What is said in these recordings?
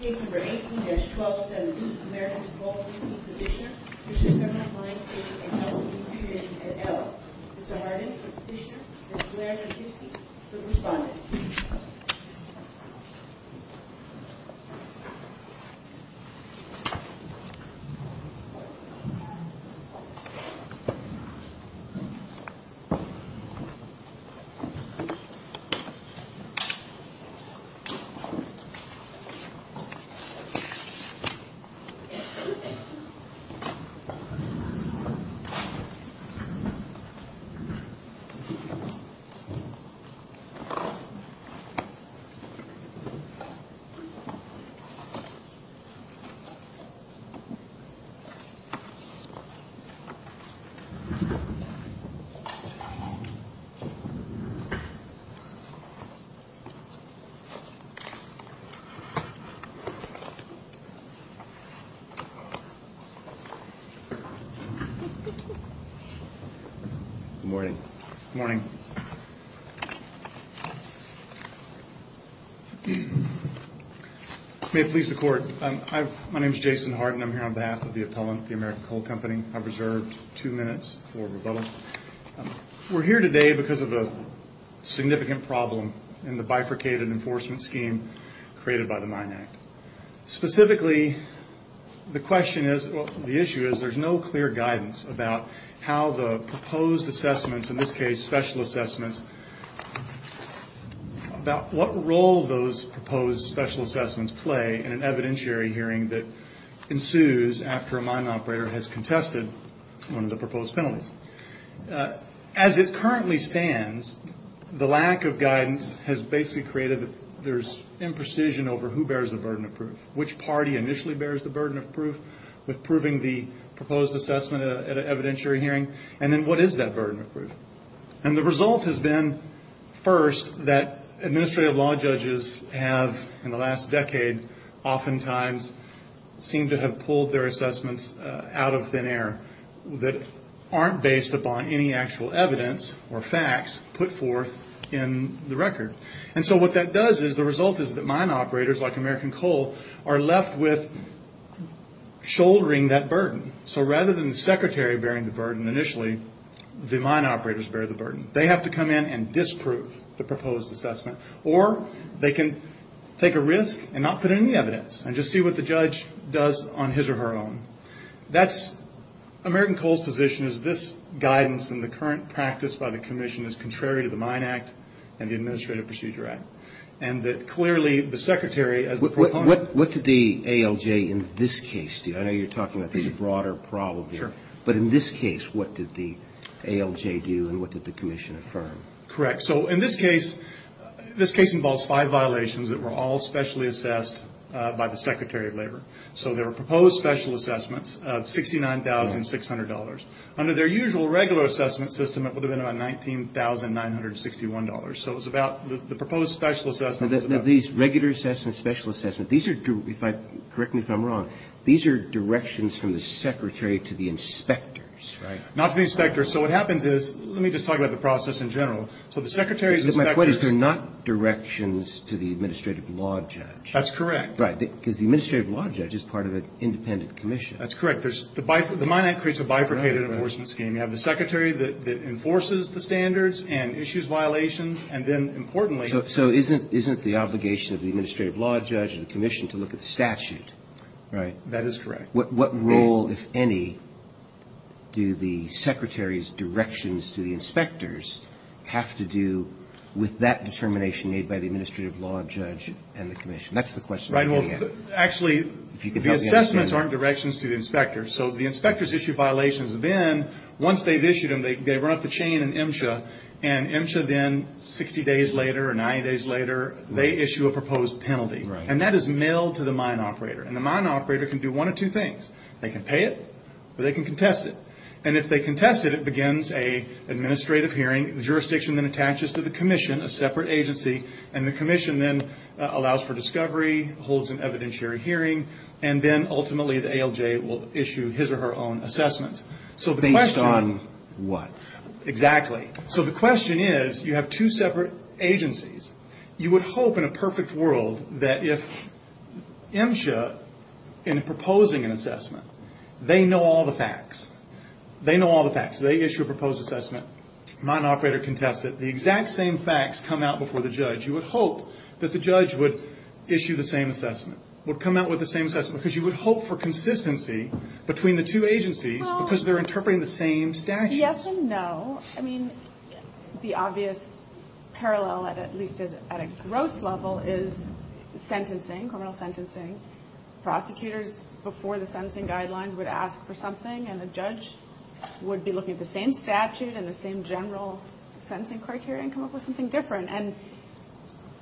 Case No. 18-1270, Americans Coal Company, Petitioner, District 7 Mine Safety and Health Review Commission, et al. Mr. Harden, the petitioner, Mr. Blair, the accused, the respondent. Mr. Harden, the petitioner, Mr. Blair, the accused, Mr. Blair, the respondent. Good morning. Good morning. May it please the Court. My name is Jason Harden. I'm here on behalf of the appellant, the American Coal Company. I've reserved two minutes for rebuttal. We're here today because of a significant problem in the bifurcated enforcement scheme created by the Mine Act. Specifically, the issue is there's no clear guidance about how the proposed assessments, in this case special assessments, about what role those proposed special assessments play in an evidentiary hearing that ensues after a mine operator has contested one of the proposed penalties. As it currently stands, the lack of guidance has basically created there's imprecision over who bears the burden of proof, which party initially bears the burden of proof with proving the proposed assessment at an evidentiary hearing, and then what is that burden of proof. And the result has been, first, that administrative law judges have, in the last decade, oftentimes seem to have pulled their assessments out of thin air that aren't based upon any actual evidence or facts put forth in the record. And so what that does is the result is that mine operators, like American Coal, are left with shouldering that burden. So rather than the secretary bearing the burden initially, the mine operators bear the burden. They have to come in and disprove the proposed assessment. Or they can take a risk and not put in any evidence and just see what the judge does on his or her own. That's American Coal's position is this guidance in the current practice by the commission is contrary to the Mine Act and the Administrative Procedure Act. And that clearly the secretary, as the proponent... What did the ALJ in this case do? I know you're talking about this broader problem here. Sure. But in this case, what did the ALJ do and what did the commission affirm? Correct. So in this case, this case involves five violations that were all specially assessed by the Secretary of Labor. So there were proposed special assessments of $69,600. Under their usual regular assessment system, it would have been about $19,961. So it was about the proposed special assessment... These regular assessments, special assessments, these are, correct me if I'm wrong, these are directions from the secretary to the inspectors, right? Not to the inspectors. So what happens is, let me just talk about the process in general. So the secretary's inspectors... My point is they're not directions to the administrative law judge. That's correct. Right. Because the administrative law judge is part of an independent commission. That's correct. The Mine Act creates a bifurcated enforcement scheme. You have the secretary that enforces the standards and issues violations. And then, importantly... So isn't the obligation of the administrative law judge and the commission to look at the statute? Right. That is correct. What role, if any, do the secretary's directions to the inspectors have to do with that determination made by the administrative law judge and the commission? That's the question. Right. Well, actually, the assessments aren't directions to the inspectors. So the inspectors issue violations. Once they've issued them, they run up the chain in MSHA. And MSHA then, 60 days later or 90 days later, they issue a proposed penalty. Right. And that is mailed to the mine operator. And the mine operator can do one of two things. They can pay it or they can contest it. And if they contest it, it begins an administrative hearing. The jurisdiction then attaches to the commission, a separate agency. And the commission then allows for discovery, holds an evidentiary hearing. And then, ultimately, the ALJ will issue his or her own assessments. Based on what? Exactly. So the question is, you have two separate agencies. You would hope, in a perfect world, that if MSHA, in proposing an assessment, they know all the facts. They know all the facts. They issue a proposed assessment. Mine operator contests it. The exact same facts come out before the judge. You would hope that the judge would issue the same assessment, would come out with the same assessment. Because you would hope for consistency between the two agencies because they're interpreting the same statute. Yes and no. I mean, the obvious parallel, at least at a gross level, is sentencing, criminal sentencing. Prosecutors, before the sentencing guidelines, would ask for something. And the judge would be looking at the same statute and the same general sentencing criteria and come up with something different. And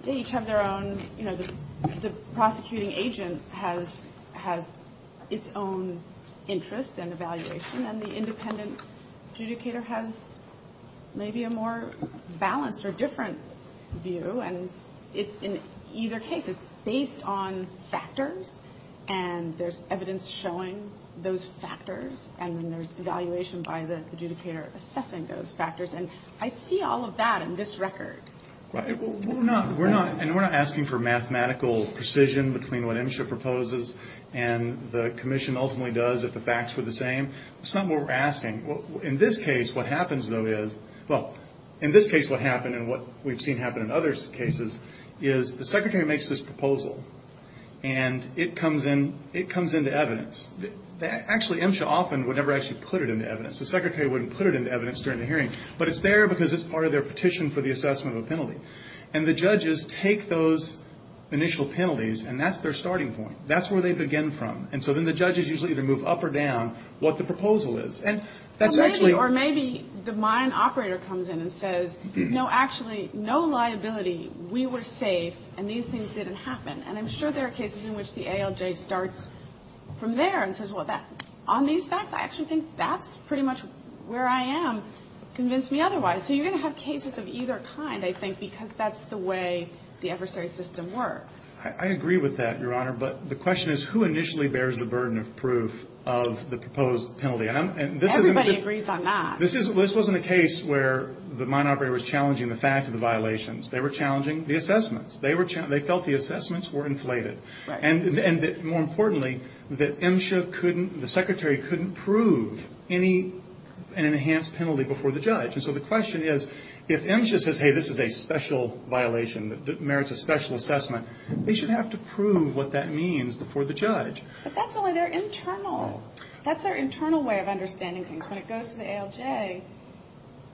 they each have their own, you know, the prosecuting agent has its own interest and evaluation. And the independent adjudicator has maybe a more balanced or different view. And in either case, it's based on factors. And there's evidence showing those factors. And then there's evaluation by the adjudicator assessing those factors. And I see all of that in this record. Right. We're not asking for mathematical precision between what MSHA proposes and the commission ultimately does if the facts were the same. That's not what we're asking. In this case, what happens, though, is well, in this case, what happened and what we've seen happen in other cases is the secretary makes this proposal. And it comes into evidence. Actually, MSHA often would never actually put it into evidence. The secretary wouldn't put it into evidence during the hearing. But it's there because it's part of their petition for the assessment of a penalty. And the judges take those initial penalties, and that's their starting point. That's where they begin from. And so then the judges usually either move up or down what the proposal is. And that's actually or maybe the mine operator comes in and says, no, actually, no liability. We were safe, and these things didn't happen. And I'm sure there are cases in which the ALJ starts from there and says, well, on these facts, I actually think that's pretty much where I am. Convince me otherwise. So you're going to have cases of either kind, I think, because that's the way the adversary system works. I agree with that, Your Honor. But the question is who initially bears the burden of proof of the proposed penalty. Everybody agrees on that. This wasn't a case where the mine operator was challenging the fact of the violations. They were challenging the assessments. They felt the assessments were inflated. And more importantly, the secretary couldn't prove an enhanced penalty before the judge. And so the question is, if MSHA says, hey, this is a special violation that merits a special assessment, they should have to prove what that means before the judge. But that's only their internal way of understanding things. When it goes to the ALJ,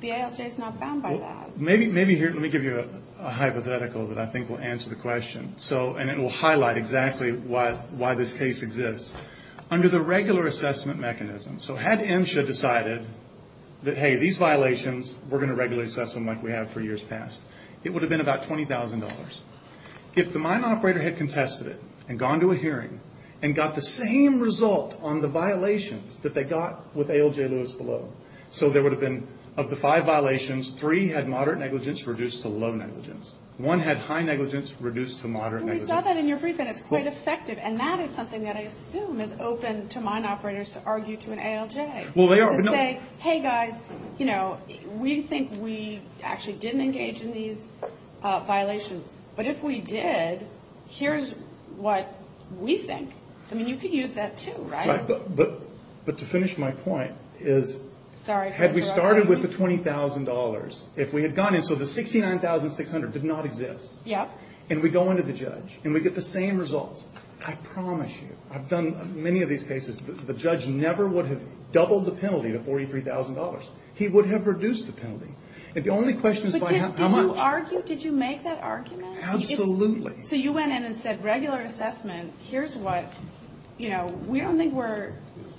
the ALJ is not bound by that. Let me give you a hypothetical that I think will answer the question. And it will highlight exactly why this case exists. Under the regular assessment mechanism, so had MSHA decided that, hey, these violations, we're going to regularly assess them like we have for years past, it would have been about $20,000. If the mine operator had contested it and gone to a hearing and got the same result on the violations that they got with ALJ Lewis below, so there would have been, of the five violations, three had moderate negligence reduced to low negligence. One had high negligence reduced to moderate negligence. And we saw that in your briefing. It's quite effective. And that is something that I assume is open to mine operators to argue to an ALJ. Well, they are. To say, hey, guys, you know, we think we actually didn't engage in these violations. But if we did, here's what we think. I mean, you could use that too, right? Right. But to finish my point is, had we started with the $20,000, if we had gone in, so the $69,600 did not exist. Yep. And we go into the judge and we get the same results. I promise you, I've done many of these cases, the judge never would have doubled the penalty to $43,000. He would have reduced the penalty. And the only question is by how much. Did you argue? Did you make that argument? Absolutely. So you went in and said, regular assessment, here's what, you know, we don't think we're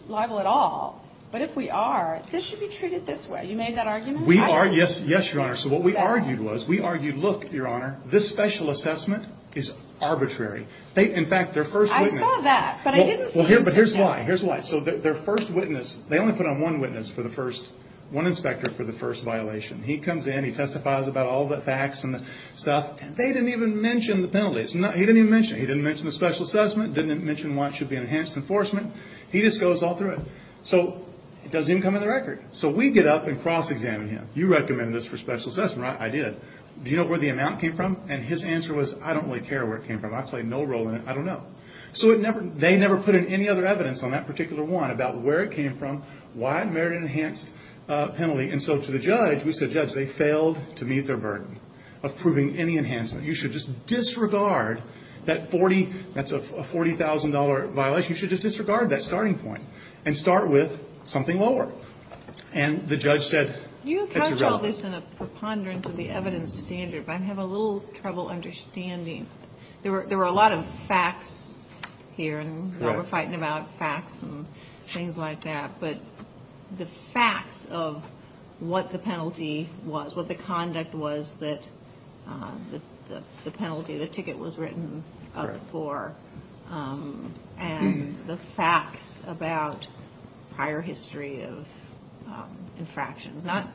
liable at all. But if we are, this should be treated this way. You made that argument? We are, yes, Your Honor. So what we argued was, we argued, look, Your Honor, this special assessment is arbitrary. In fact, their first witness. I saw that, but I didn't see him say that. Well, here's why, here's why. So their first witness, they only put on one witness for the first, one inspector for the first violation. He comes in, he testifies about all the facts and the stuff, and they didn't even mention the penalties. He didn't even mention it. He didn't mention the special assessment, didn't mention why it should be enhanced enforcement. He just goes all through it. So it doesn't even come in the record. So we get up and cross-examine him. You recommended this for special assessment, right? I did. Do you know where the amount came from? And his answer was, I don't really care where it came from. I played no role in it. I don't know. So they never put in any other evidence on that particular one about where it came from, why merit-enhanced penalty. And so to the judge, we said, Judge, they failed to meet their burden of proving any enhancement. You should just disregard that $40,000 violation. You should just disregard that starting point and start with something lower. And the judge said, that's irrelevant. Can you account for this in a preponderance of the evidence standard? I'm having a little trouble understanding. There were a lot of facts here and what we're fighting about, facts and things like that, but the facts of what the penalty was, what the conduct was that the penalty, the ticket was written up for, and the facts about prior history of infractions, not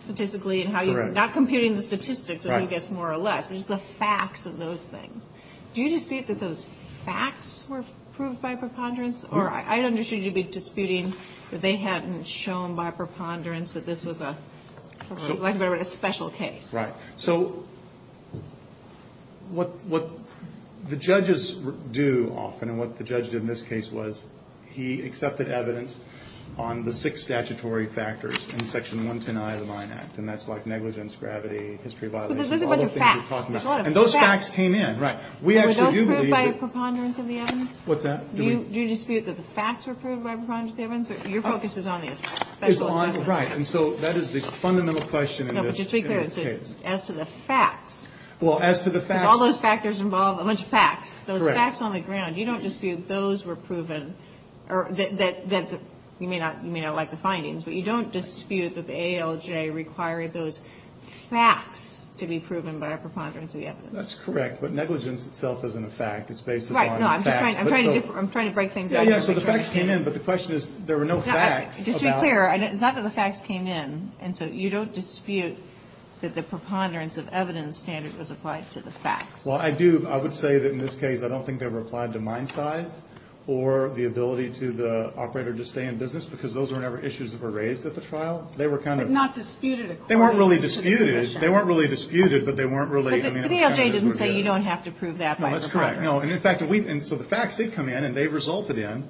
statistically, not computing the statistics, I guess, more or less, but just the facts of those things. Do you dispute that those facts were proved by preponderance? Or I understand you'd be disputing that they hadn't shown by preponderance that this was a special case. Right. So what the judges do often, and what the judge did in this case was, he accepted evidence on the six statutory factors in Section 110I of the Mine Act, and that's like negligence, gravity, history of violations, all the things we're talking about. But there's a bunch of facts. And those facts came in, right. Were those proved by a preponderance of the evidence? What's that? Do you dispute that the facts were proved by preponderance of the evidence? Your focus is on these. Right. And so that is the fundamental question in this case. As to the facts. Well, as to the facts. Because all those factors involve a bunch of facts. Correct. Those facts on the ground. You don't dispute those were proven, or that you may not like the findings, but you don't dispute that the ALJ required those facts to be proven by a preponderance of the evidence. That's correct. But negligence itself isn't a fact. It's based upon facts. Right. No, I'm just trying to break things up. Yeah, yeah, so the facts came in, but the question is there were no facts about. Just to be clear, it's not that the facts came in. And so you don't dispute that the preponderance of evidence standard was applied to the facts. Well, I do. I would say that in this case I don't think they were applied to mine size or the ability to the operator to stay in business because those were never issues that were raised at the trial. They were kind of. But not disputed. They weren't really disputed. They weren't really disputed, but they weren't really. But the ALJ didn't say you don't have to prove that by a preponderance. No, that's correct. And so the facts did come in, and they resulted in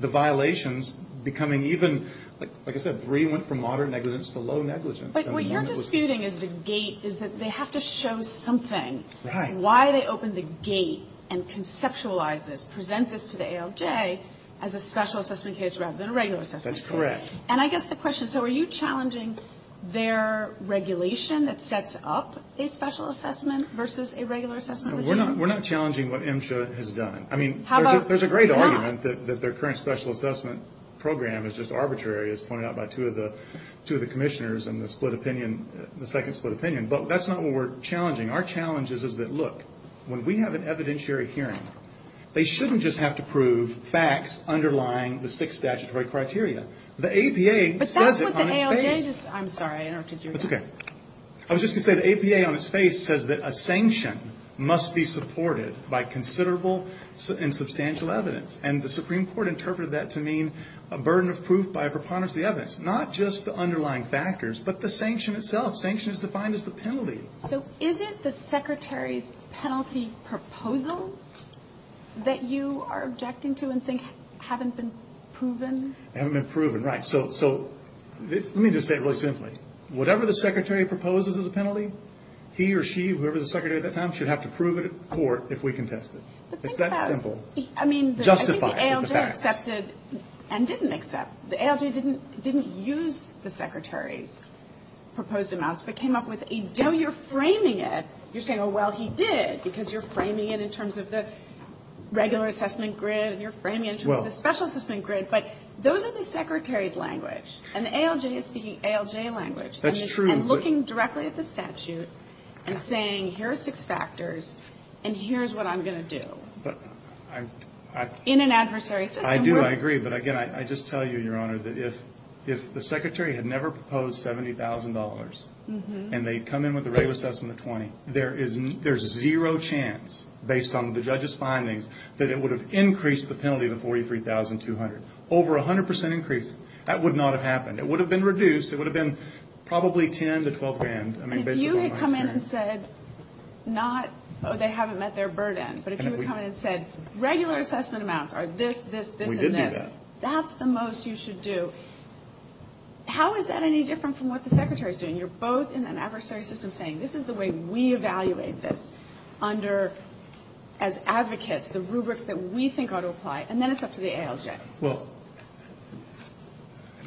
the violations becoming even, like I said, the three went from moderate negligence to low negligence. But what you're disputing is the gate, is that they have to show something. Right. Why they opened the gate and conceptualized this, present this to the ALJ as a special assessment case rather than a regular assessment case. That's correct. And I guess the question, so are you challenging their regulation that sets up a special assessment versus a regular assessment regime? We're not challenging what MSHA has done. I mean, there's a great argument that their current special assessment program is just arbitrary, as pointed out by two of the commissioners in the split opinion, the second split opinion. But that's not what we're challenging. Our challenge is that, look, when we have an evidentiary hearing, they shouldn't just have to prove facts underlying the six statutory criteria. The APA says it on its face. But that's what the ALJ, I'm sorry, I interrupted you. That's okay. I was just going to say the APA on its face says that a sanction must be supported by considerable and substantial evidence. And the Supreme Court interpreted that to mean a burden of proof by a preponderance of the evidence, not just the underlying factors, but the sanction itself. Sanction is defined as the penalty. So is it the Secretary's penalty proposals that you are objecting to and think haven't been proven? They haven't been proven, right. So let me just say it really simply. Whatever the Secretary proposes as a penalty, he or she, whoever the Secretary at that time, should have to prove it at court if we contest it. It's that simple. Justify it with the facts. I mean, I think the ALJ accepted and didn't accept. The ALJ didn't use the Secretary's proposed amounts, but came up with a deal. You're framing it. You're saying, oh, well, he did, because you're framing it in terms of the regular assessment grid and you're framing it in terms of the special assessment grid. But those are the Secretary's language. And the ALJ is speaking ALJ language. That's true. And looking directly at the statute and saying here are six factors and here is what I'm going to do. In an adversary system. I do. I agree. But, again, I just tell you, Your Honor, that if the Secretary had never proposed $70,000 and they come in with a regular assessment of $20,000, there's zero chance, based on the judge's findings, that it would have increased the penalty to $43,200. Over 100% increase. That would not have happened. It would have been reduced. It would have been probably $10,000 to $12,000. And if you had come in and said not, oh, they haven't met their burden, but if you had come in and said regular assessment amounts are this, this, this, and this. We did do that. That's the most you should do. How is that any different from what the Secretary is doing? You're both in an adversary system saying this is the way we evaluate this under, as advocates, the rubrics that we think ought to apply. And then it's up to the ALJ. Well,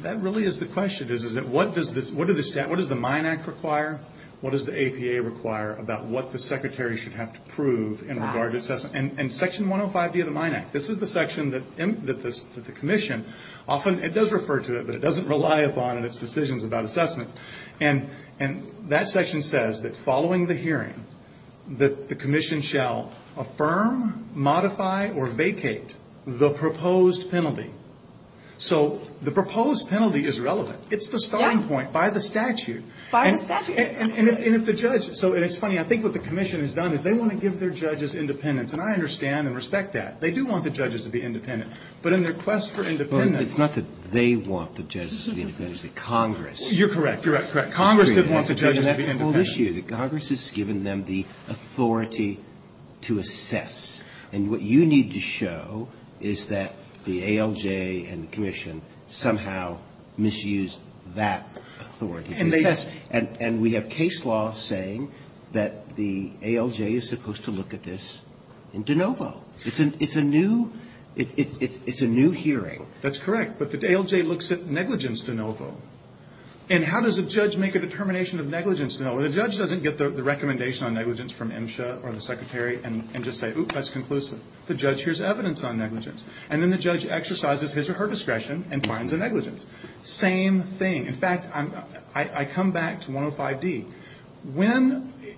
that really is the question. What does the MINE Act require? What does the APA require about what the Secretary should have to prove in regard to Section 105B of the MINE Act? This is the section that the Commission often, it does refer to it, but it doesn't rely upon in its decisions about assessments. And that section says that following the hearing that the Commission shall affirm, modify, or vacate the proposed penalty. So the proposed penalty is relevant. It's the starting point by the statute. By the statute. And if the judge, and it's funny, I think what the Commission has done is they want to give their judges independence. And I understand and respect that. They do want the judges to be independent. But in their quest for independence. But it's not that they want the judges to be independent. It's the Congress. You're correct. You're correct. Congress wants the judges to be independent. Congress has given them the authority to assess. authority to assess. And we have case law saying that the ALJ is supposed to look at this in de novo. It's a new hearing. That's correct. But the ALJ looks at negligence de novo. And how does a judge make a determination of negligence de novo? The judge doesn't get the recommendation on negligence from MSHA or the Secretary and just say, oop, that's conclusive. The judge hears evidence on negligence. And then the judge exercises his or her discretion and finds a negligence. Same thing. In fact, I come back to 105D.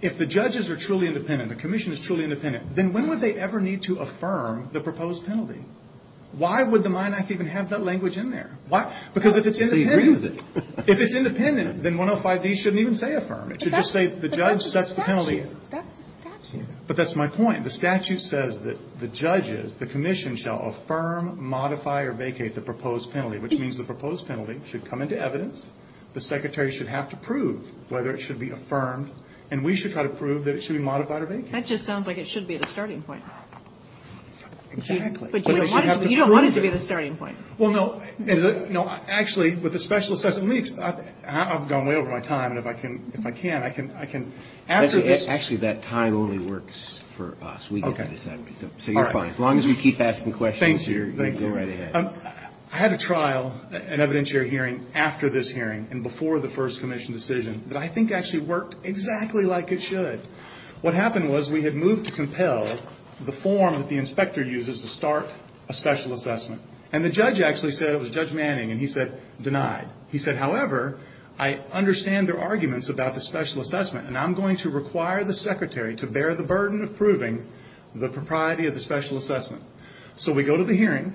If the judges are truly independent, the commission is truly independent, then when would they ever need to affirm the proposed penalty? Why would the Mine Act even have that language in there? Because if it's independent, then 105D shouldn't even say affirm. It should just say the judge sets the penalty. But that's the statute. But that's my point. The statute says that the judges, the commission, shall affirm, modify, or vacate the proposed penalty. Which means the proposed penalty should come into evidence. The Secretary should have to prove whether it should be affirmed. And we should try to prove that it should be modified or vacated. That just sounds like it should be the starting point. Exactly. But you don't want it to be the starting point. Well, no. Actually, with the special assessment weeks, I've gone way over my time. And if I can, I can answer this. Actually, that time only works for us. We get to decide. So you're fine. As long as we keep asking questions, you're right ahead. I had a trial, an evidentiary hearing, after this hearing and before the first commission decision that I think actually worked exactly like it should. What happened was we had moved to compel the form that the inspector uses to start a special assessment. And the judge actually said it was Judge Manning, and he said, denied. He said, however, I understand their arguments about the special assessment, and I'm going to require the Secretary to bear the burden of proving the propriety of the special assessment. So we go to the hearing,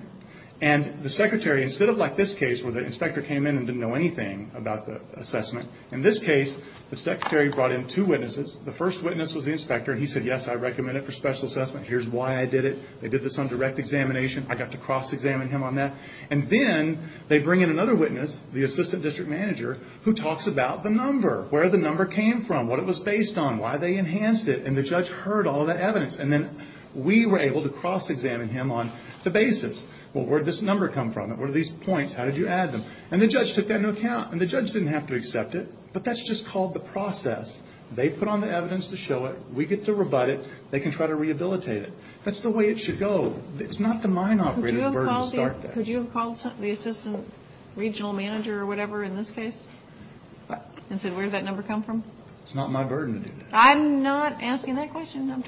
and the Secretary, instead of like this case where the inspector came in and didn't know anything about the assessment, in this case, the Secretary brought in two witnesses. The first witness was the inspector, and he said, yes, I recommend it for special assessment. Here's why I did it. They did this on direct examination. I got to cross-examine him on that. And then they bring in another witness, the assistant district manager, who talks about the number, where the number came from, what it was based on, why they enhanced it. And the judge heard all of that evidence. And then we were able to cross-examine him on the basis. Well, where did this number come from? What are these points? How did you add them? And the judge took that into account. And the judge didn't have to accept it, but that's just called the process. They put on the evidence to show it. We get to rebut it. They can try to rehabilitate it. That's the way it should go. It's not the mine operator's burden to start that. Could you have called the assistant regional manager or whatever in this case and said, where did that number come from? It's not my burden to do that. I'm not asking that question. I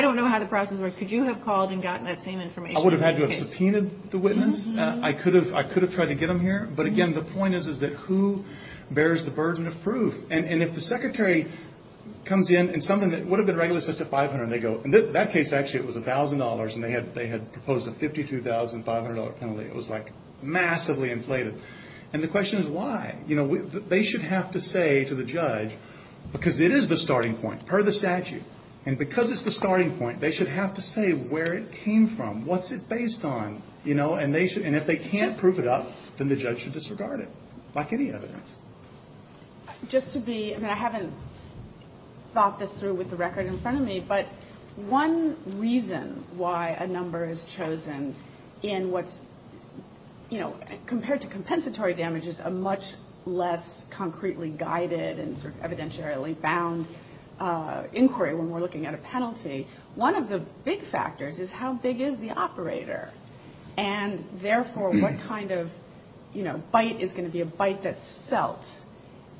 don't know how the process works. Could you have called and gotten that same information? I would have had to have subpoenaed the witness. I could have tried to get them here. But, again, the point is that who bears the burden of proof? And if the secretary comes in and something that would have been regularly assessed at $500, and they go, in that case, actually, it was $1,000, and they had proposed a $52,500 penalty, it was, like, massively inflated. And the question is why. They should have to say to the judge, because it is the starting point per the statute, and because it's the starting point, they should have to say where it came from. What's it based on? And if they can't prove it up, then the judge should disregard it, like any evidence. Just to be – and I haven't thought this through with the record in front of me, but one reason why a number is chosen in what's – less concretely guided and sort of evidentially bound inquiry when we're looking at a penalty, one of the big factors is how big is the operator? And, therefore, what kind of, you know, bite is going to be a bite that's felt?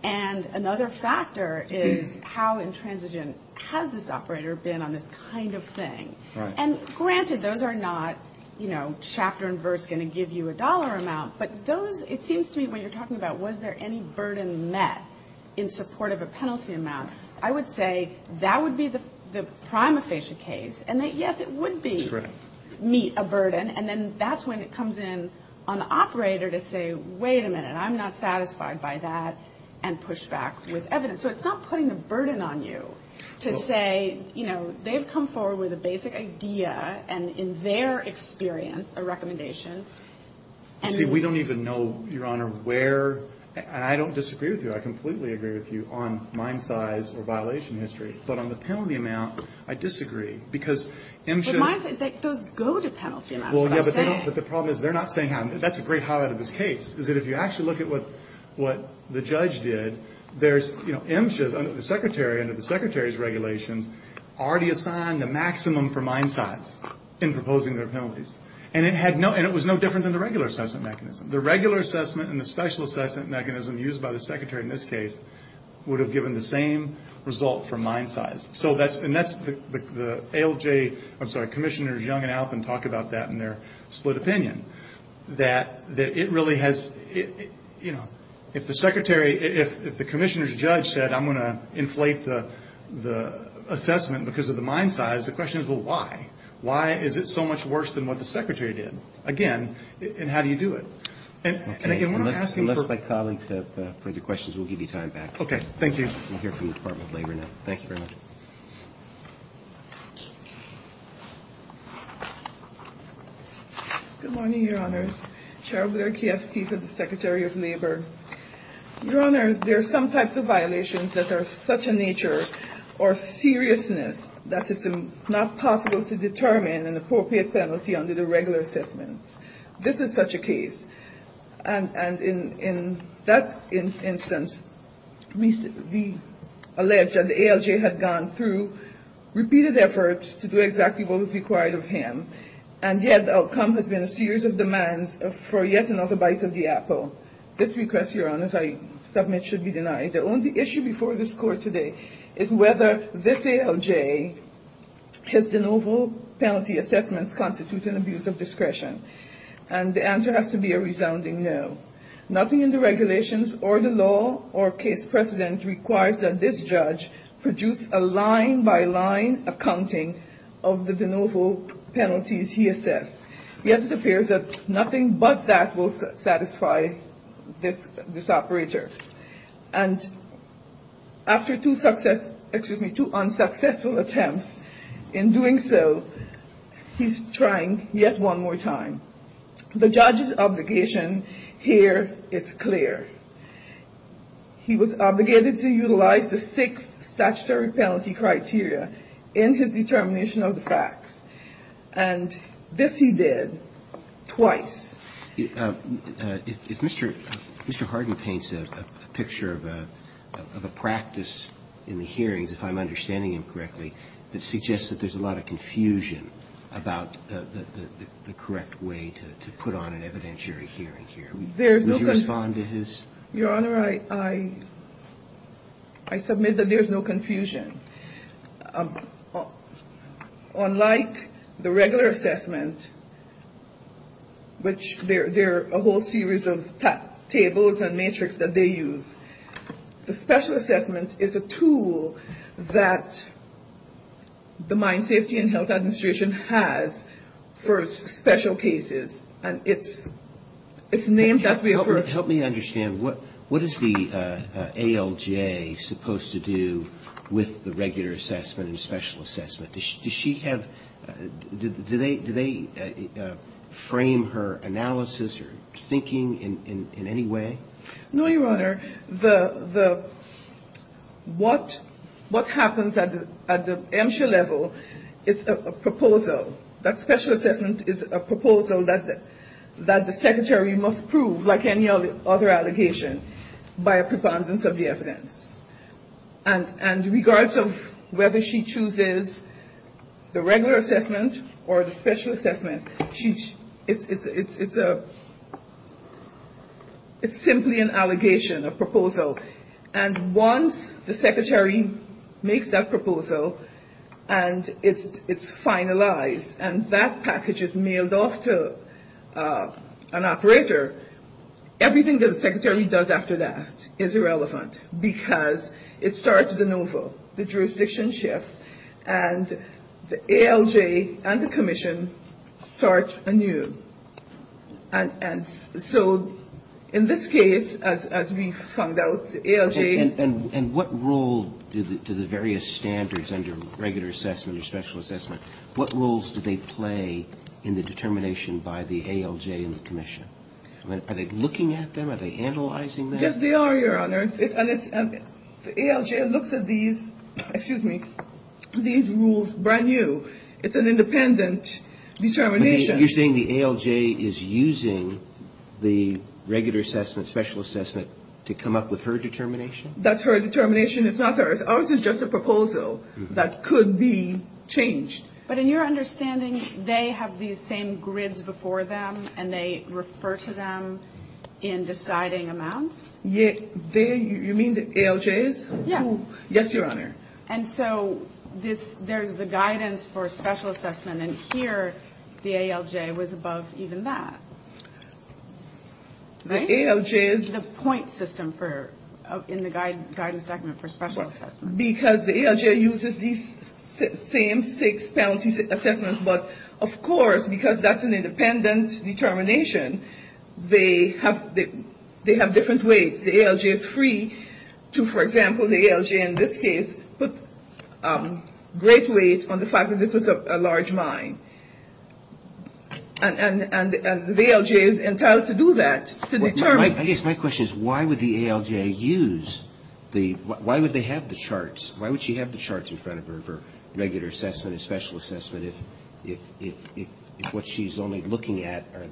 And another factor is how intransigent has this operator been on this kind of thing? And, granted, those are not, you know, chapter and verse going to give you a dollar amount, but those – it seems to me when you're talking about was there any burden met in support of a penalty amount, I would say that would be the prima facie case, and that, yes, it would meet a burden. And then that's when it comes in on the operator to say, wait a minute, I'm not satisfied by that, and push back with evidence. So it's not putting a burden on you to say, you know, they've come forward with a basic idea, and in their experience a recommendation. See, we don't even know, Your Honor, where – and I don't disagree with you. I completely agree with you on mine size or violation history. But on the penalty amount, I disagree because MSHA – But mine size – those go to penalty amounts, what I'm saying. Well, yeah, but they don't – but the problem is they're not saying how. That's a great highlight of this case is that if you actually look at what the judge did, there's – you know, MSHA, under the Secretary, under the Secretary's regulations, already assigned a maximum for mine size in proposing their penalties. And it had no – and it was no different than the regular assessment mechanism. The regular assessment and the special assessment mechanism used by the Secretary in this case would have given the same result for mine size. So that's – and that's the ALJ – I'm sorry, Commissioners Young and Alton talk about that in their split opinion. That it really has – you know, if the Secretary – if the Commissioner's judge said, I'm going to inflate the assessment because of the mine size, the question is, well, why? Why is it so much worse than what the Secretary did? Again, and how do you do it? And again, I want to ask you for – Okay, unless my colleagues have further questions, we'll give you time back. Okay, thank you. We'll hear from the Department of Labor now. Thank you very much. Good morning, Your Honors. Cheryl Blair-Kievsky for the Secretary of Labor. Your Honors, there are some types of violations that are of such a nature or seriousness that it's not possible to determine an appropriate penalty under the regular assessments. This is such a case. And in that instance, we allege that the ALJ had gone through repeated efforts to do exactly what was required of him, and yet the outcome has been a series of demands for yet another bite of the apple. This request, Your Honors, I submit should be denied. The only issue before this Court today is whether this ALJ, his de novo penalty assessments constitute an abuse of discretion. And the answer has to be a resounding no. Nothing in the regulations or the law or case precedent requires that this judge produce a line-by-line accounting of the de novo penalties he assessed. Yet it appears that nothing but that will satisfy this operator. And after two unsuccessful attempts in doing so, he's trying yet one more time. The judge's obligation here is clear. He was obligated to utilize the six statutory penalty criteria in his determination of the facts. And this he did twice. If Mr. Hardin paints a picture of a practice in the hearings, if I'm understanding him correctly, that suggests that there's a lot of confusion about the correct way to put on an evidentiary hearing here, will you respond to his? Your Honor, I submit that there's no confusion. Unlike the regular assessment, which there are a whole series of tables and metrics that they use, the special assessment is a tool that the Mine Safety and Health Administration has for special cases. And it's named that way for... the regular assessment and special assessment. Does she have – do they frame her analysis or thinking in any way? No, Your Honor. The – what happens at the MSHA level is a proposal. That special assessment is a proposal that the Secretary must prove, like any other allegation, by a preponderance of the evidence. And in regards of whether she chooses the regular assessment or the special assessment, it's simply an allegation, a proposal. And once the Secretary makes that proposal and it's finalized and that package is mailed off to an operator, everything that the Secretary does after that is irrelevant, because it starts anew. The jurisdiction shifts, and the ALJ and the commission start anew. And so in this case, as we found out, the ALJ... And what role do the various standards under regular assessment or special assessment, what roles do they play in the determination by the ALJ and the commission? Are they looking at them? Are they analyzing them? Yes, they are, Your Honor. And it's – the ALJ looks at these – excuse me – these rules brand new. It's an independent determination. You're saying the ALJ is using the regular assessment, special assessment, to come up with her determination? That's her determination. It's not ours. Ours is just a proposal that could be changed. But in your understanding, they have these same grids before them, and they refer to them in deciding amounts? You mean the ALJs? Yes. Yes, Your Honor. And so there's the guidance for special assessment, and here the ALJ was above even that. The ALJs... In the guidance document for special assessment. Because the ALJ uses these same six penalty assessments, but of course, because that's an independent determination, they have different weights. The ALJ is free to, for example, the ALJ in this case, put great weight on the fact that this was a large mine. And the ALJ is entitled to do that, to determine... I guess my question is, why would the ALJ use the... Why would they have the charts? Why would she have the charts in front of her for regular assessment and special assessment if what she's only looking at are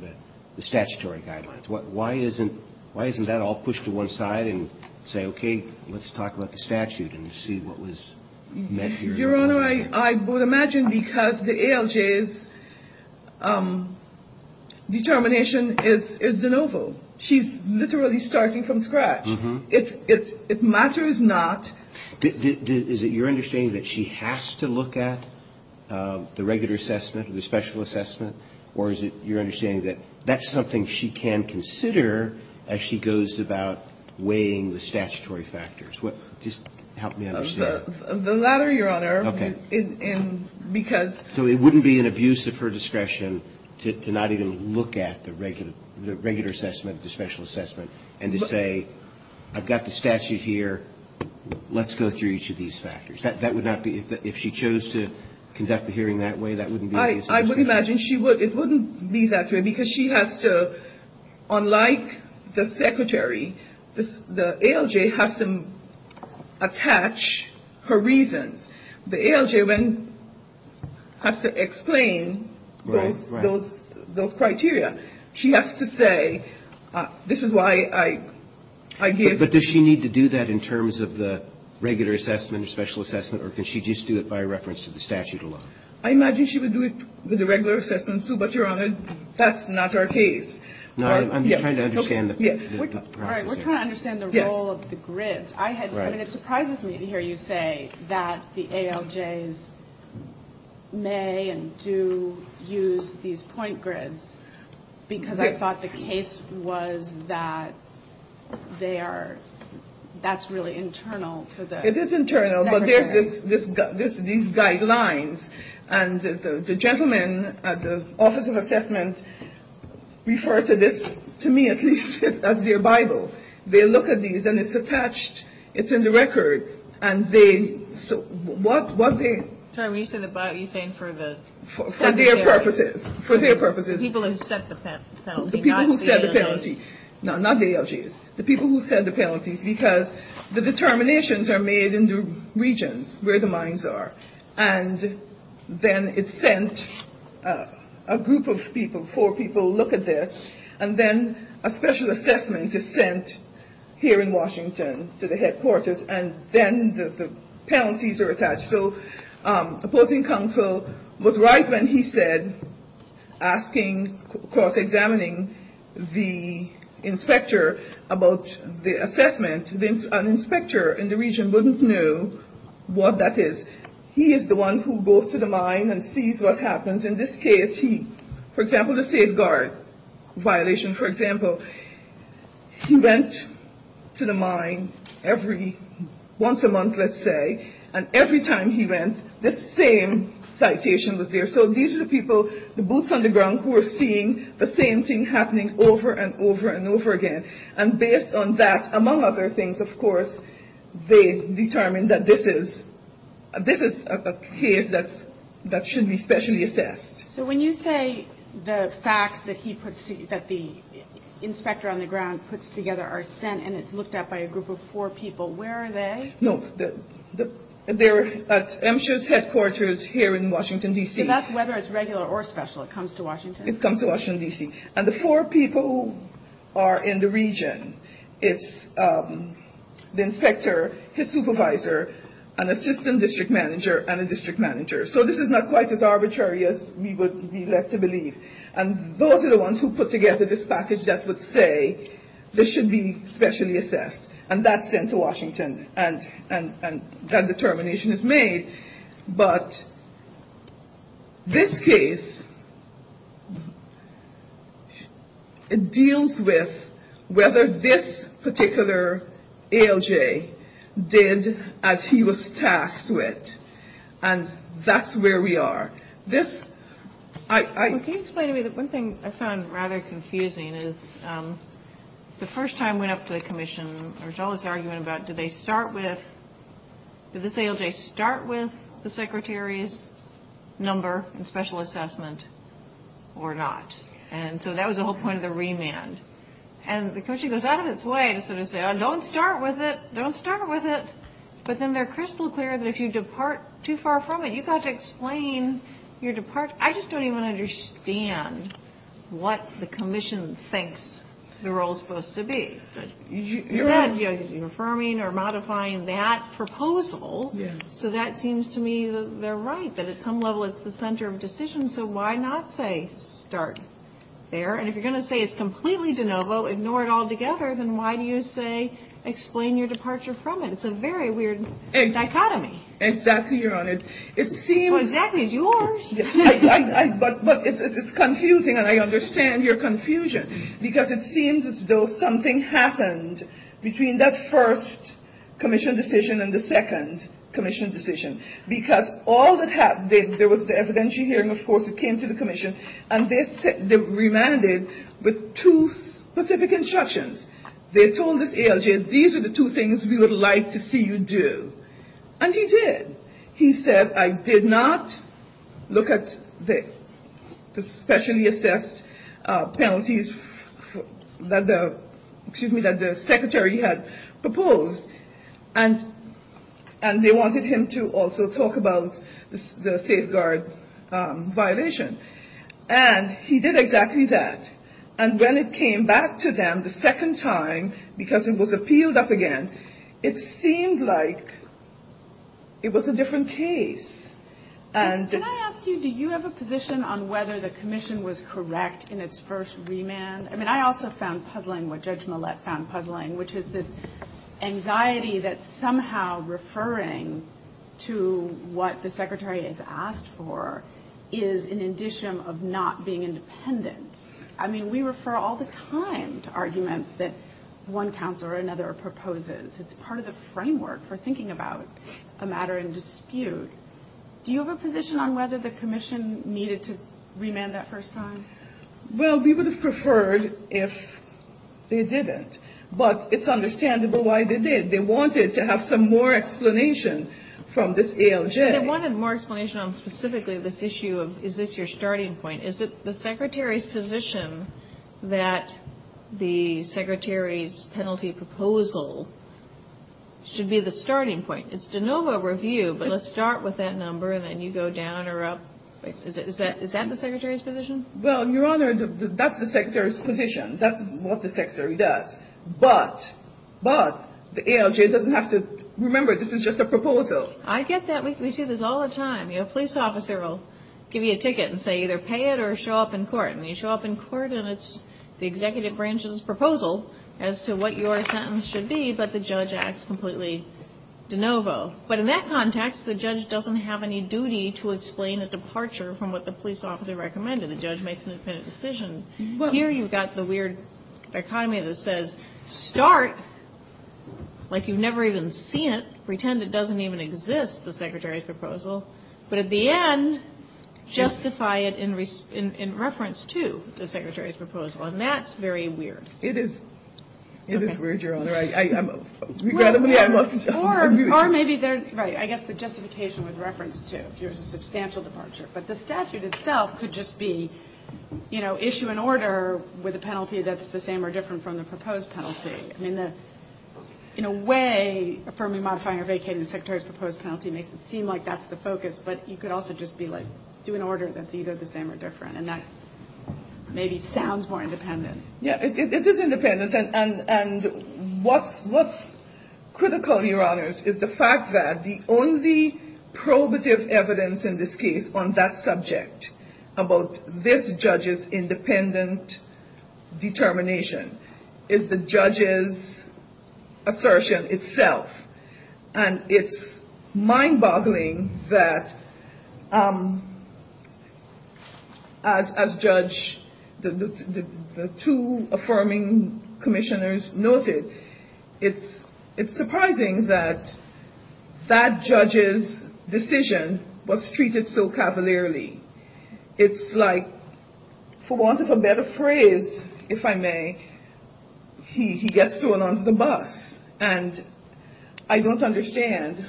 the statutory guidelines? Why isn't that all pushed to one side and say, okay, let's talk about the statute and see what was meant here? Your Honor, I would imagine because the ALJ's determination is de novo. She's literally starting from scratch. If matter is not... Is it your understanding that she has to look at the regular assessment or the special assessment, or is it your understanding that that's something she can consider as she goes about weighing the statutory factors? Just help me understand. The latter, Your Honor. Okay. And because... So it wouldn't be an abuse of her discretion to not even look at the regular assessment, the special assessment, and to say, I've got the statute here. Let's go through each of these factors. That would not be... If she chose to conduct the hearing that way, that wouldn't be... I would imagine she would. It wouldn't be that way because she has to, unlike the Secretary, the ALJ has to attach her reasons. The ALJ has to explain those criteria. She has to say, this is why I give... But does she need to do that in terms of the regular assessment or special assessment, or can she just do it by reference to the statute alone? I imagine she would do it with the regular assessments, too, but, Your Honor, that's not our case. No, I'm just trying to understand the process here. All right. We're trying to understand the role of the grid. I mean, it surprises me to hear you say that the ALJs may and do use these point grids because I thought the case was that they are... That's really internal to the... It is internal, but there's these guidelines. And the gentlemen at the Office of Assessment refer to this, to me at least, as their Bible. They look at these, and it's attached. It's in the record. And they... So what they... Your Honor, when you say the Bible, are you saying for the... For their purposes. For their purposes. People who set the penalty, not the ALJs. The people who set the penalty. No, not the ALJs. The people who set the penalties because the determinations are made in the regions where the mines are. And then it's sent, a group of people, four people look at this, and then a special assessment is sent here in Washington to the headquarters, and then the penalties are attached. So opposing counsel was right when he said, asking, cross-examining the inspector about the assessment. An inspector in the region wouldn't know what that is. He is the one who goes to the mine and sees what happens. In this case, for example, the safeguard violation, for example, he went to the mine every once a month, let's say, and every time he went, the same citation was there. So these are the people, the boots on the ground, who are seeing the same thing happening over and over and over again. And based on that, among other things, of course, they determine that this is a case that should be specially assessed. So when you say the facts that the inspector on the ground puts together are sent and it's looked at by a group of four people, where are they? No, they're at MSHA's headquarters here in Washington, D.C. So that's whether it's regular or special, it comes to Washington? It comes to Washington, D.C. And the four people who are in the region, it's the inspector, his supervisor, an assistant district manager, and a district manager. So this is not quite as arbitrary as we would be led to believe. And those are the ones who put together this package that would say this should be specially assessed. And that's sent to Washington. And that determination is made. But this case, it deals with whether this particular ALJ did as he was tasked with. And that's where we are. This ‑‑ Can you explain to me, one thing I found rather confusing is the first time I went up to the commission, there was all this argument about did they start with, did this ALJ start with the secretary's number and special assessment or not? And so that was the whole point of the remand. And the commission goes out of its way to sort of say, oh, don't start with it, don't start with it. But then they're crystal clear that if you depart too far from it, you've got to explain your departure. I just don't even understand what the commission thinks the role is supposed to be. You're affirming or modifying that proposal. So that seems to me they're right, that at some level it's the center of decision. So why not say start there? And if you're going to say it's completely de novo, ignore it altogether, then why do you say explain your departure from it? It's a very weird dichotomy. Exactly, Your Honor. It seems ‑‑ Well, exactly, it's yours. But it's confusing, and I understand your confusion. Because it seems as though something happened between that first commission decision and the second commission decision. Because all that happened, there was the evidentiary hearing, of course, it came to the commission, and they remanded with two specific instructions. They told this ALJ, these are the two things we would like to see you do. And he did. He said, I did not look at the specially assessed penalties that the secretary had proposed. And they wanted him to also talk about the safeguard violation. And he did exactly that. And when it came back to them the second time, because it was appealed up again, it seemed like it was a different case. Can I ask you, do you have a position on whether the commission was correct in its first remand? I mean, I also found puzzling what Judge Millett found puzzling, which is this anxiety that somehow referring to what the secretary has asked for, is an indicium of not being independent. I mean, we refer all the time to arguments that one counsel or another proposes. It's part of the framework for thinking about a matter in dispute. Do you have a position on whether the commission needed to remand that first time? Well, we would have preferred if they didn't. But it's understandable why they did. They wanted to have some more explanation from this ALJ. They wanted more explanation on specifically this issue of is this your starting point? Is it the secretary's position that the secretary's penalty proposal should be the starting point? It's de novo review, but let's start with that number, and then you go down or up. Is that the secretary's position? Well, Your Honor, that's the secretary's position. That's what the secretary does. But the ALJ doesn't have to remember this is just a proposal. I get that. We see this all the time. You know, a police officer will give you a ticket and say either pay it or show up in court. And you show up in court, and it's the executive branch's proposal as to what your sentence should be, but the judge acts completely de novo. But in that context, the judge doesn't have any duty to explain a departure from what the police officer recommended. The judge makes an independent decision. Here you've got the weird dichotomy that says start like you've never even seen it. Pretend it doesn't even exist, the secretary's proposal. But at the end, justify it in reference to the secretary's proposal. And that's very weird. It is. It is weird, Your Honor. Regrettably, I must argue. Or maybe they're right. I guess the justification with reference to if there's a substantial departure. But the statute itself could just be, you know, issue an order with a penalty that's the same or different from the proposed penalty. I mean, in a way, affirming modifying or vacating the secretary's proposed penalty makes it seem like that's the focus. But you could also just be like do an order that's either the same or different. And that maybe sounds more independent. Yeah, it is independent. And what's critical, Your Honors, is the fact that the only probative evidence in this case on that subject about this judge's independent determination is the judge's assertion itself. And it's mind boggling that as judge, the two affirming commissioners noted, it's surprising that that judge's decision was treated so cavalierly. It's like for want of a better phrase, if I may, he gets thrown onto the bus. And I don't understand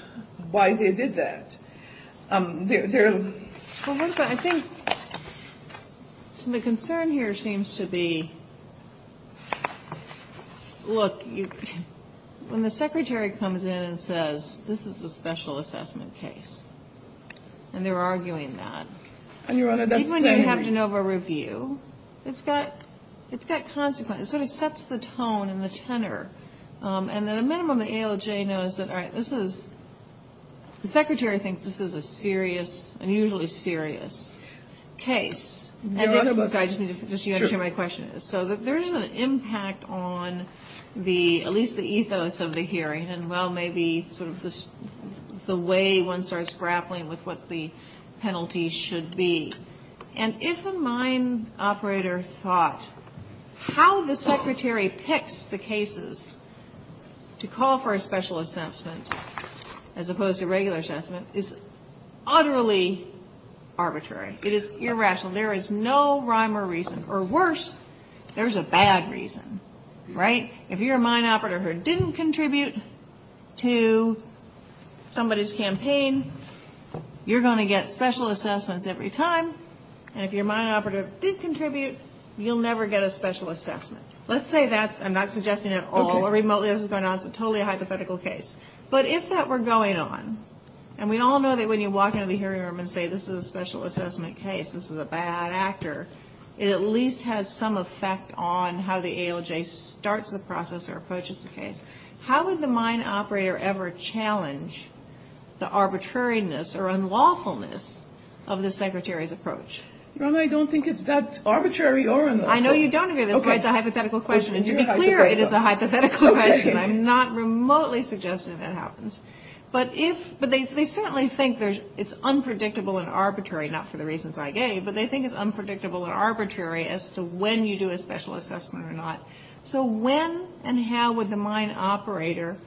why they did that. I think the concern here seems to be, look, when the secretary comes in and says this is a special assessment case, and they're arguing that, even when you have de novo review, it's got consequence. It sort of sets the tone and the tenor. And at a minimum, the ALJ knows that, all right, this is, the secretary thinks this is a serious, unusually serious case. And if it was, I just need to make sure my question is. So there's an impact on the, at least the ethos of the hearing, and well, maybe sort of the way one starts grappling with what the penalty should be. And if a mine operator thought, how the secretary picks the cases to call for a special assessment, as opposed to a regular assessment, is utterly arbitrary. It is irrational. There is no rhyme or reason. Or worse, there's a bad reason, right? If you're a mine operator who didn't contribute to somebody's campaign, you're going to get special assessments every time. And if your mine operator did contribute, you'll never get a special assessment. Let's say that's, I'm not suggesting at all, or remotely this is going on, it's a totally hypothetical case. But if that were going on, and we all know that when you walk into the hearing room and say this is a special assessment case, this is a bad actor, it at least has some effect on how the ALJ starts the process. Or approaches the case. How would the mine operator ever challenge the arbitrariness or unlawfulness of the secretary's approach? I don't think it's that arbitrary or unlawful. I know you don't agree with this, but it's a hypothetical question. And to be clear, it is a hypothetical question. I'm not remotely suggesting that happens. But if, but they certainly think it's unpredictable and arbitrary, not for the reasons I gave. But they think it's unpredictable and arbitrary as to when you do a special assessment or not. So when and how would the mine operator,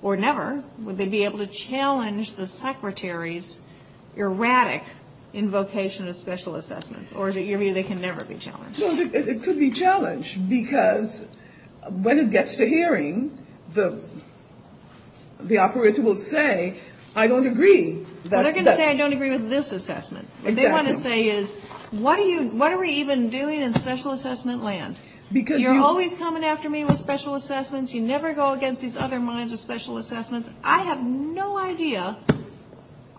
or never, would they be able to challenge the secretary's erratic invocation of special assessments? Or is it you mean they can never be challenged? It could be challenged. Because when it gets to hearing, the operator will say, I don't agree. They're going to say I don't agree with this assessment. What they want to say is, what are we even doing in special assessment land? You're always coming after me with special assessments. You never go against these other mines with special assessments. I have no idea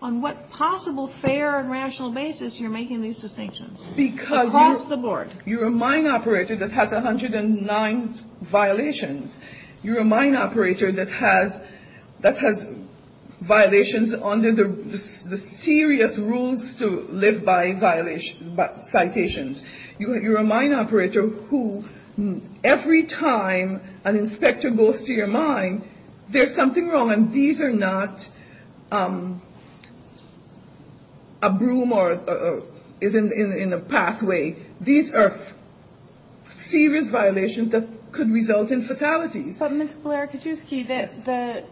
on what possible fair and rational basis you're making these distinctions. Across the board. Because you're a mine operator that has 109 violations. You're a mine operator that has violations under the serious rules to live by violations, citations. You're a mine operator who every time an inspector goes to your mine, there's something wrong. And these are not a broom or is in a pathway. These are serious violations that could result in fatalities. But Ms. Blair-Kaczewski, the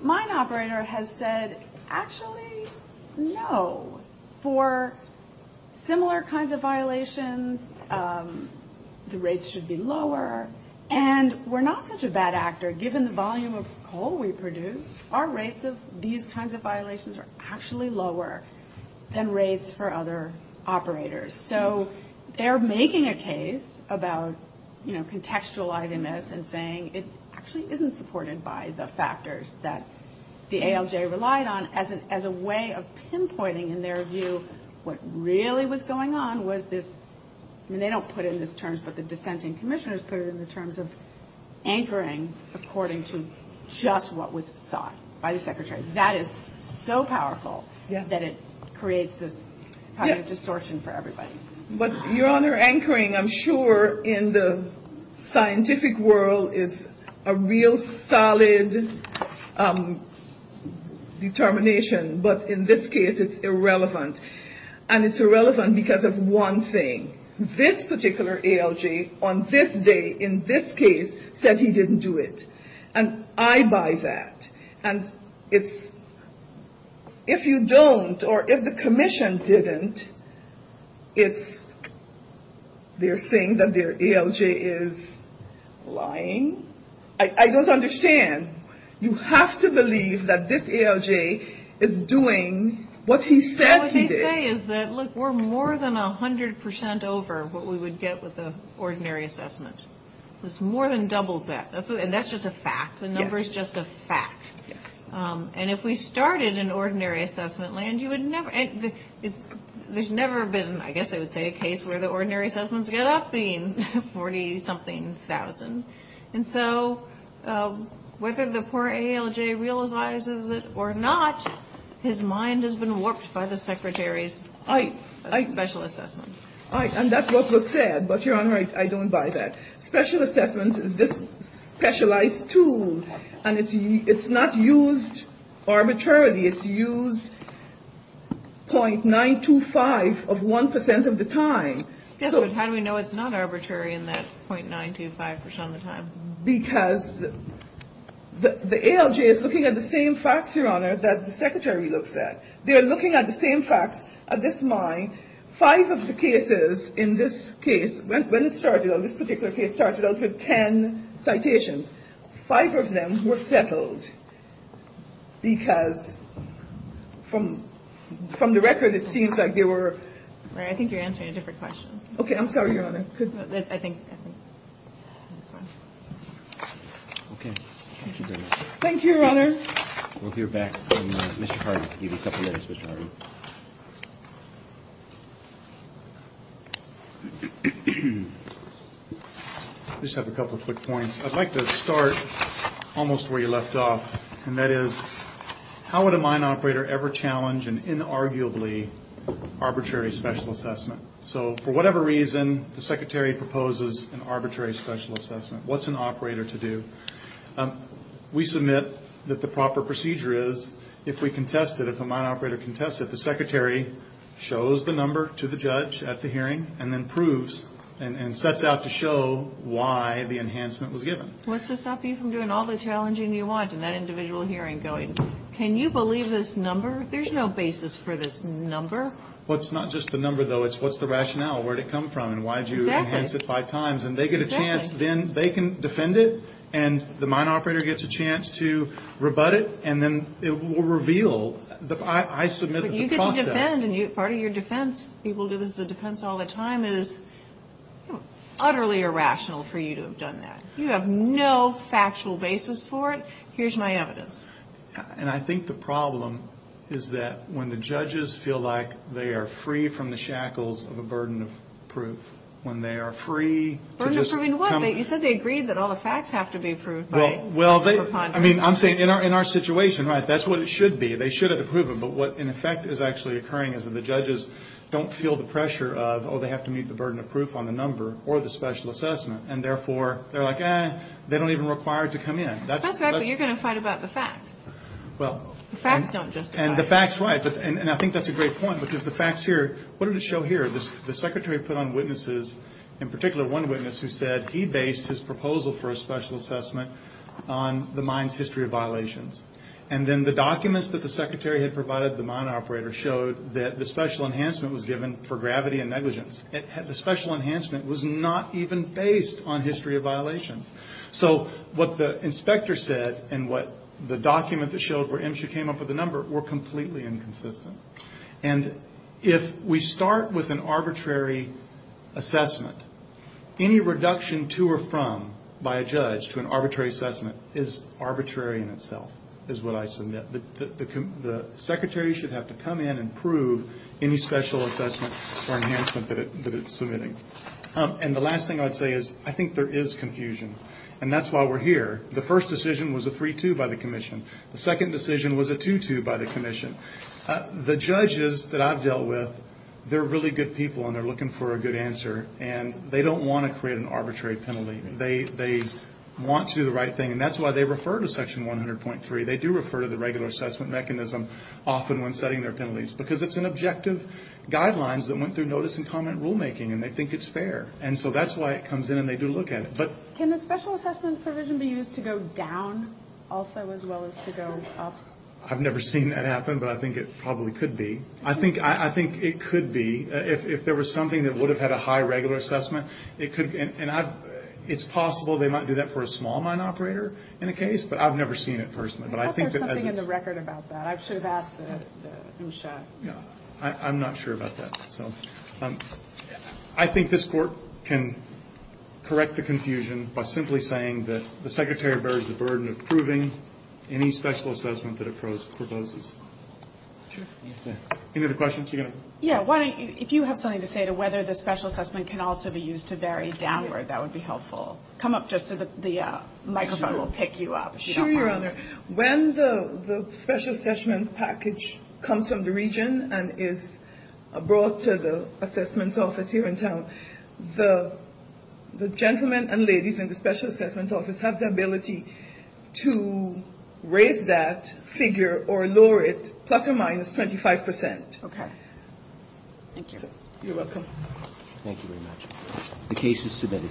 mine operator has said, actually, no. For similar kinds of violations, the rates should be lower. And we're not such a bad actor, given the volume of coal we produce. Our rates of these kinds of violations are actually lower than rates for other operators. So they're making a case about contextualizing this and saying it actually isn't supported by the factors that the ALJ relied on. As a way of pinpointing, in their view, what really was going on was this. I mean, they don't put it in this terms, but the dissenting commissioners put it in the terms of anchoring according to just what was sought by the secretary. That is so powerful that it creates this kind of distortion for everybody. But your Honor, anchoring, I'm sure, in the scientific world is a real solid determination. But in this case, it's irrelevant. And it's irrelevant because of one thing. This particular ALJ on this day in this case said he didn't do it. And I buy that. And it's, if you don't or if the commission didn't, it's, they're saying that their ALJ is lying. I don't understand. You have to believe that this ALJ is doing what he said he did. What they say is that, look, we're more than 100% over what we would get with an ordinary assessment. It's more than double that. And that's just a fact. The number is just a fact. And if we started an ordinary assessment land, you would never, there's never been, I guess I would say, a case where the ordinary assessments get up to 40-something thousand. And so whether the poor ALJ realizes it or not, his mind has been warped by the secretary's special assessment. And that's what was said. But, Your Honor, I don't buy that. Special assessments is this specialized tool. And it's not used arbitrarily. It's used .925 of 1% of the time. Yes, but how do we know it's not arbitrary in that .925% of the time? Because the ALJ is looking at the same facts, Your Honor, that the secretary looks at. They are looking at the same facts at this mine. Five of the cases in this case, when it started out, this particular case started out with ten citations. Five of them were settled because from the record, it seems like they were. I think you're answering a different question. Okay. I'm sorry, Your Honor. I think that's fine. Okay. Thank you very much. Thank you, Your Honor. We'll hear back from Mr. Hardy. I'll give you a couple minutes, Mr. Hardy. I just have a couple quick points. I'd like to start almost where you left off, and that is how would a mine operator ever challenge an inarguably arbitrary special assessment? So for whatever reason, the secretary proposes an arbitrary special assessment. What's an operator to do? We submit that the proper procedure is if we contest it, if a mine operator contests it, the secretary shows the number to the judge at the hearing and then proves and sets out to show why the enhancement was given. What's to stop you from doing all the challenging you want in that individual hearing going, can you believe this number? There's no basis for this number. Well, it's not just the number, though. It's what's the rationale, where did it come from, and why did you enhance it five times? And they get a chance, then they can defend it, and the mine operator gets a chance to rebut it, and then it will reveal. I submit that the process. But you get to defend, and part of your defense, people do this as a defense all the time, is utterly irrational for you to have done that. You have no factual basis for it. Here's my evidence. And I think the problem is that when the judges feel like they are free from the shackles of a burden of proof, when they are free to just come. Burden of proof in what? You said they agreed that all the facts have to be proved by preponderance. Well, I mean, I'm saying in our situation, right, that's what it should be. They should have approved it. But what, in effect, is actually occurring is that the judges don't feel the pressure of, oh, they have to meet the burden of proof on the number or the special assessment. And therefore, they're like, eh, they don't even require it to come in. That's right, but you're going to fight about the facts. Well. The facts don't justify it. And the facts, right. And I think that's a great point, because the facts here, what did it show here? The secretary put on witnesses, in particular one witness who said he based his proposal for a special assessment on the mine's history of violations. And then the documents that the secretary had provided the mine operator showed that the special enhancement was given for gravity and negligence. The special enhancement was not even based on history of violations. So what the inspector said and what the document that showed where MSHA came up with the number were completely inconsistent. And if we start with an arbitrary assessment, any reduction to or from by a judge to an arbitrary assessment is arbitrary in itself, is what I submit. The secretary should have to come in and prove any special assessment or enhancement that it's submitting. And the last thing I'd say is I think there is confusion. And that's why we're here. The first decision was a 3-2 by the commission. The second decision was a 2-2 by the commission. The judges that I've dealt with, they're really good people and they're looking for a good answer. And they don't want to create an arbitrary penalty. They want to do the right thing. And that's why they refer to Section 100.3. They do refer to the regular assessment mechanism often when setting their penalties, because it's an objective guidelines that went through notice and comment rulemaking. And they think it's fair. And so that's why it comes in and they do look at it. But can the special assessment provision be used to go down also as well as to go up? I've never seen that happen, but I think it probably could be. I think it could be. If there was something that would have had a high regular assessment, it could be. And it's possible they might do that for a small mine operator in a case, but I've never seen it personally. I thought there was something in the record about that. I should have asked Usha. I'm not sure about that. So I think this Court can correct the confusion by simply saying that the Secretary bears the burden of proving any special assessment that it proposes. Any other questions? Yeah. If you have something to say to whether the special assessment can also be used to vary downward, that would be helpful. Come up just so the microphone will pick you up. Sure, Your Honor. When the special assessment package comes from the region and is brought to the assessments office here in town, the gentlemen and ladies in the special assessment office have the ability to raise that figure or lower it plus or minus 25%. Okay. Thank you. You're welcome. Thank you very much. The case is submitted.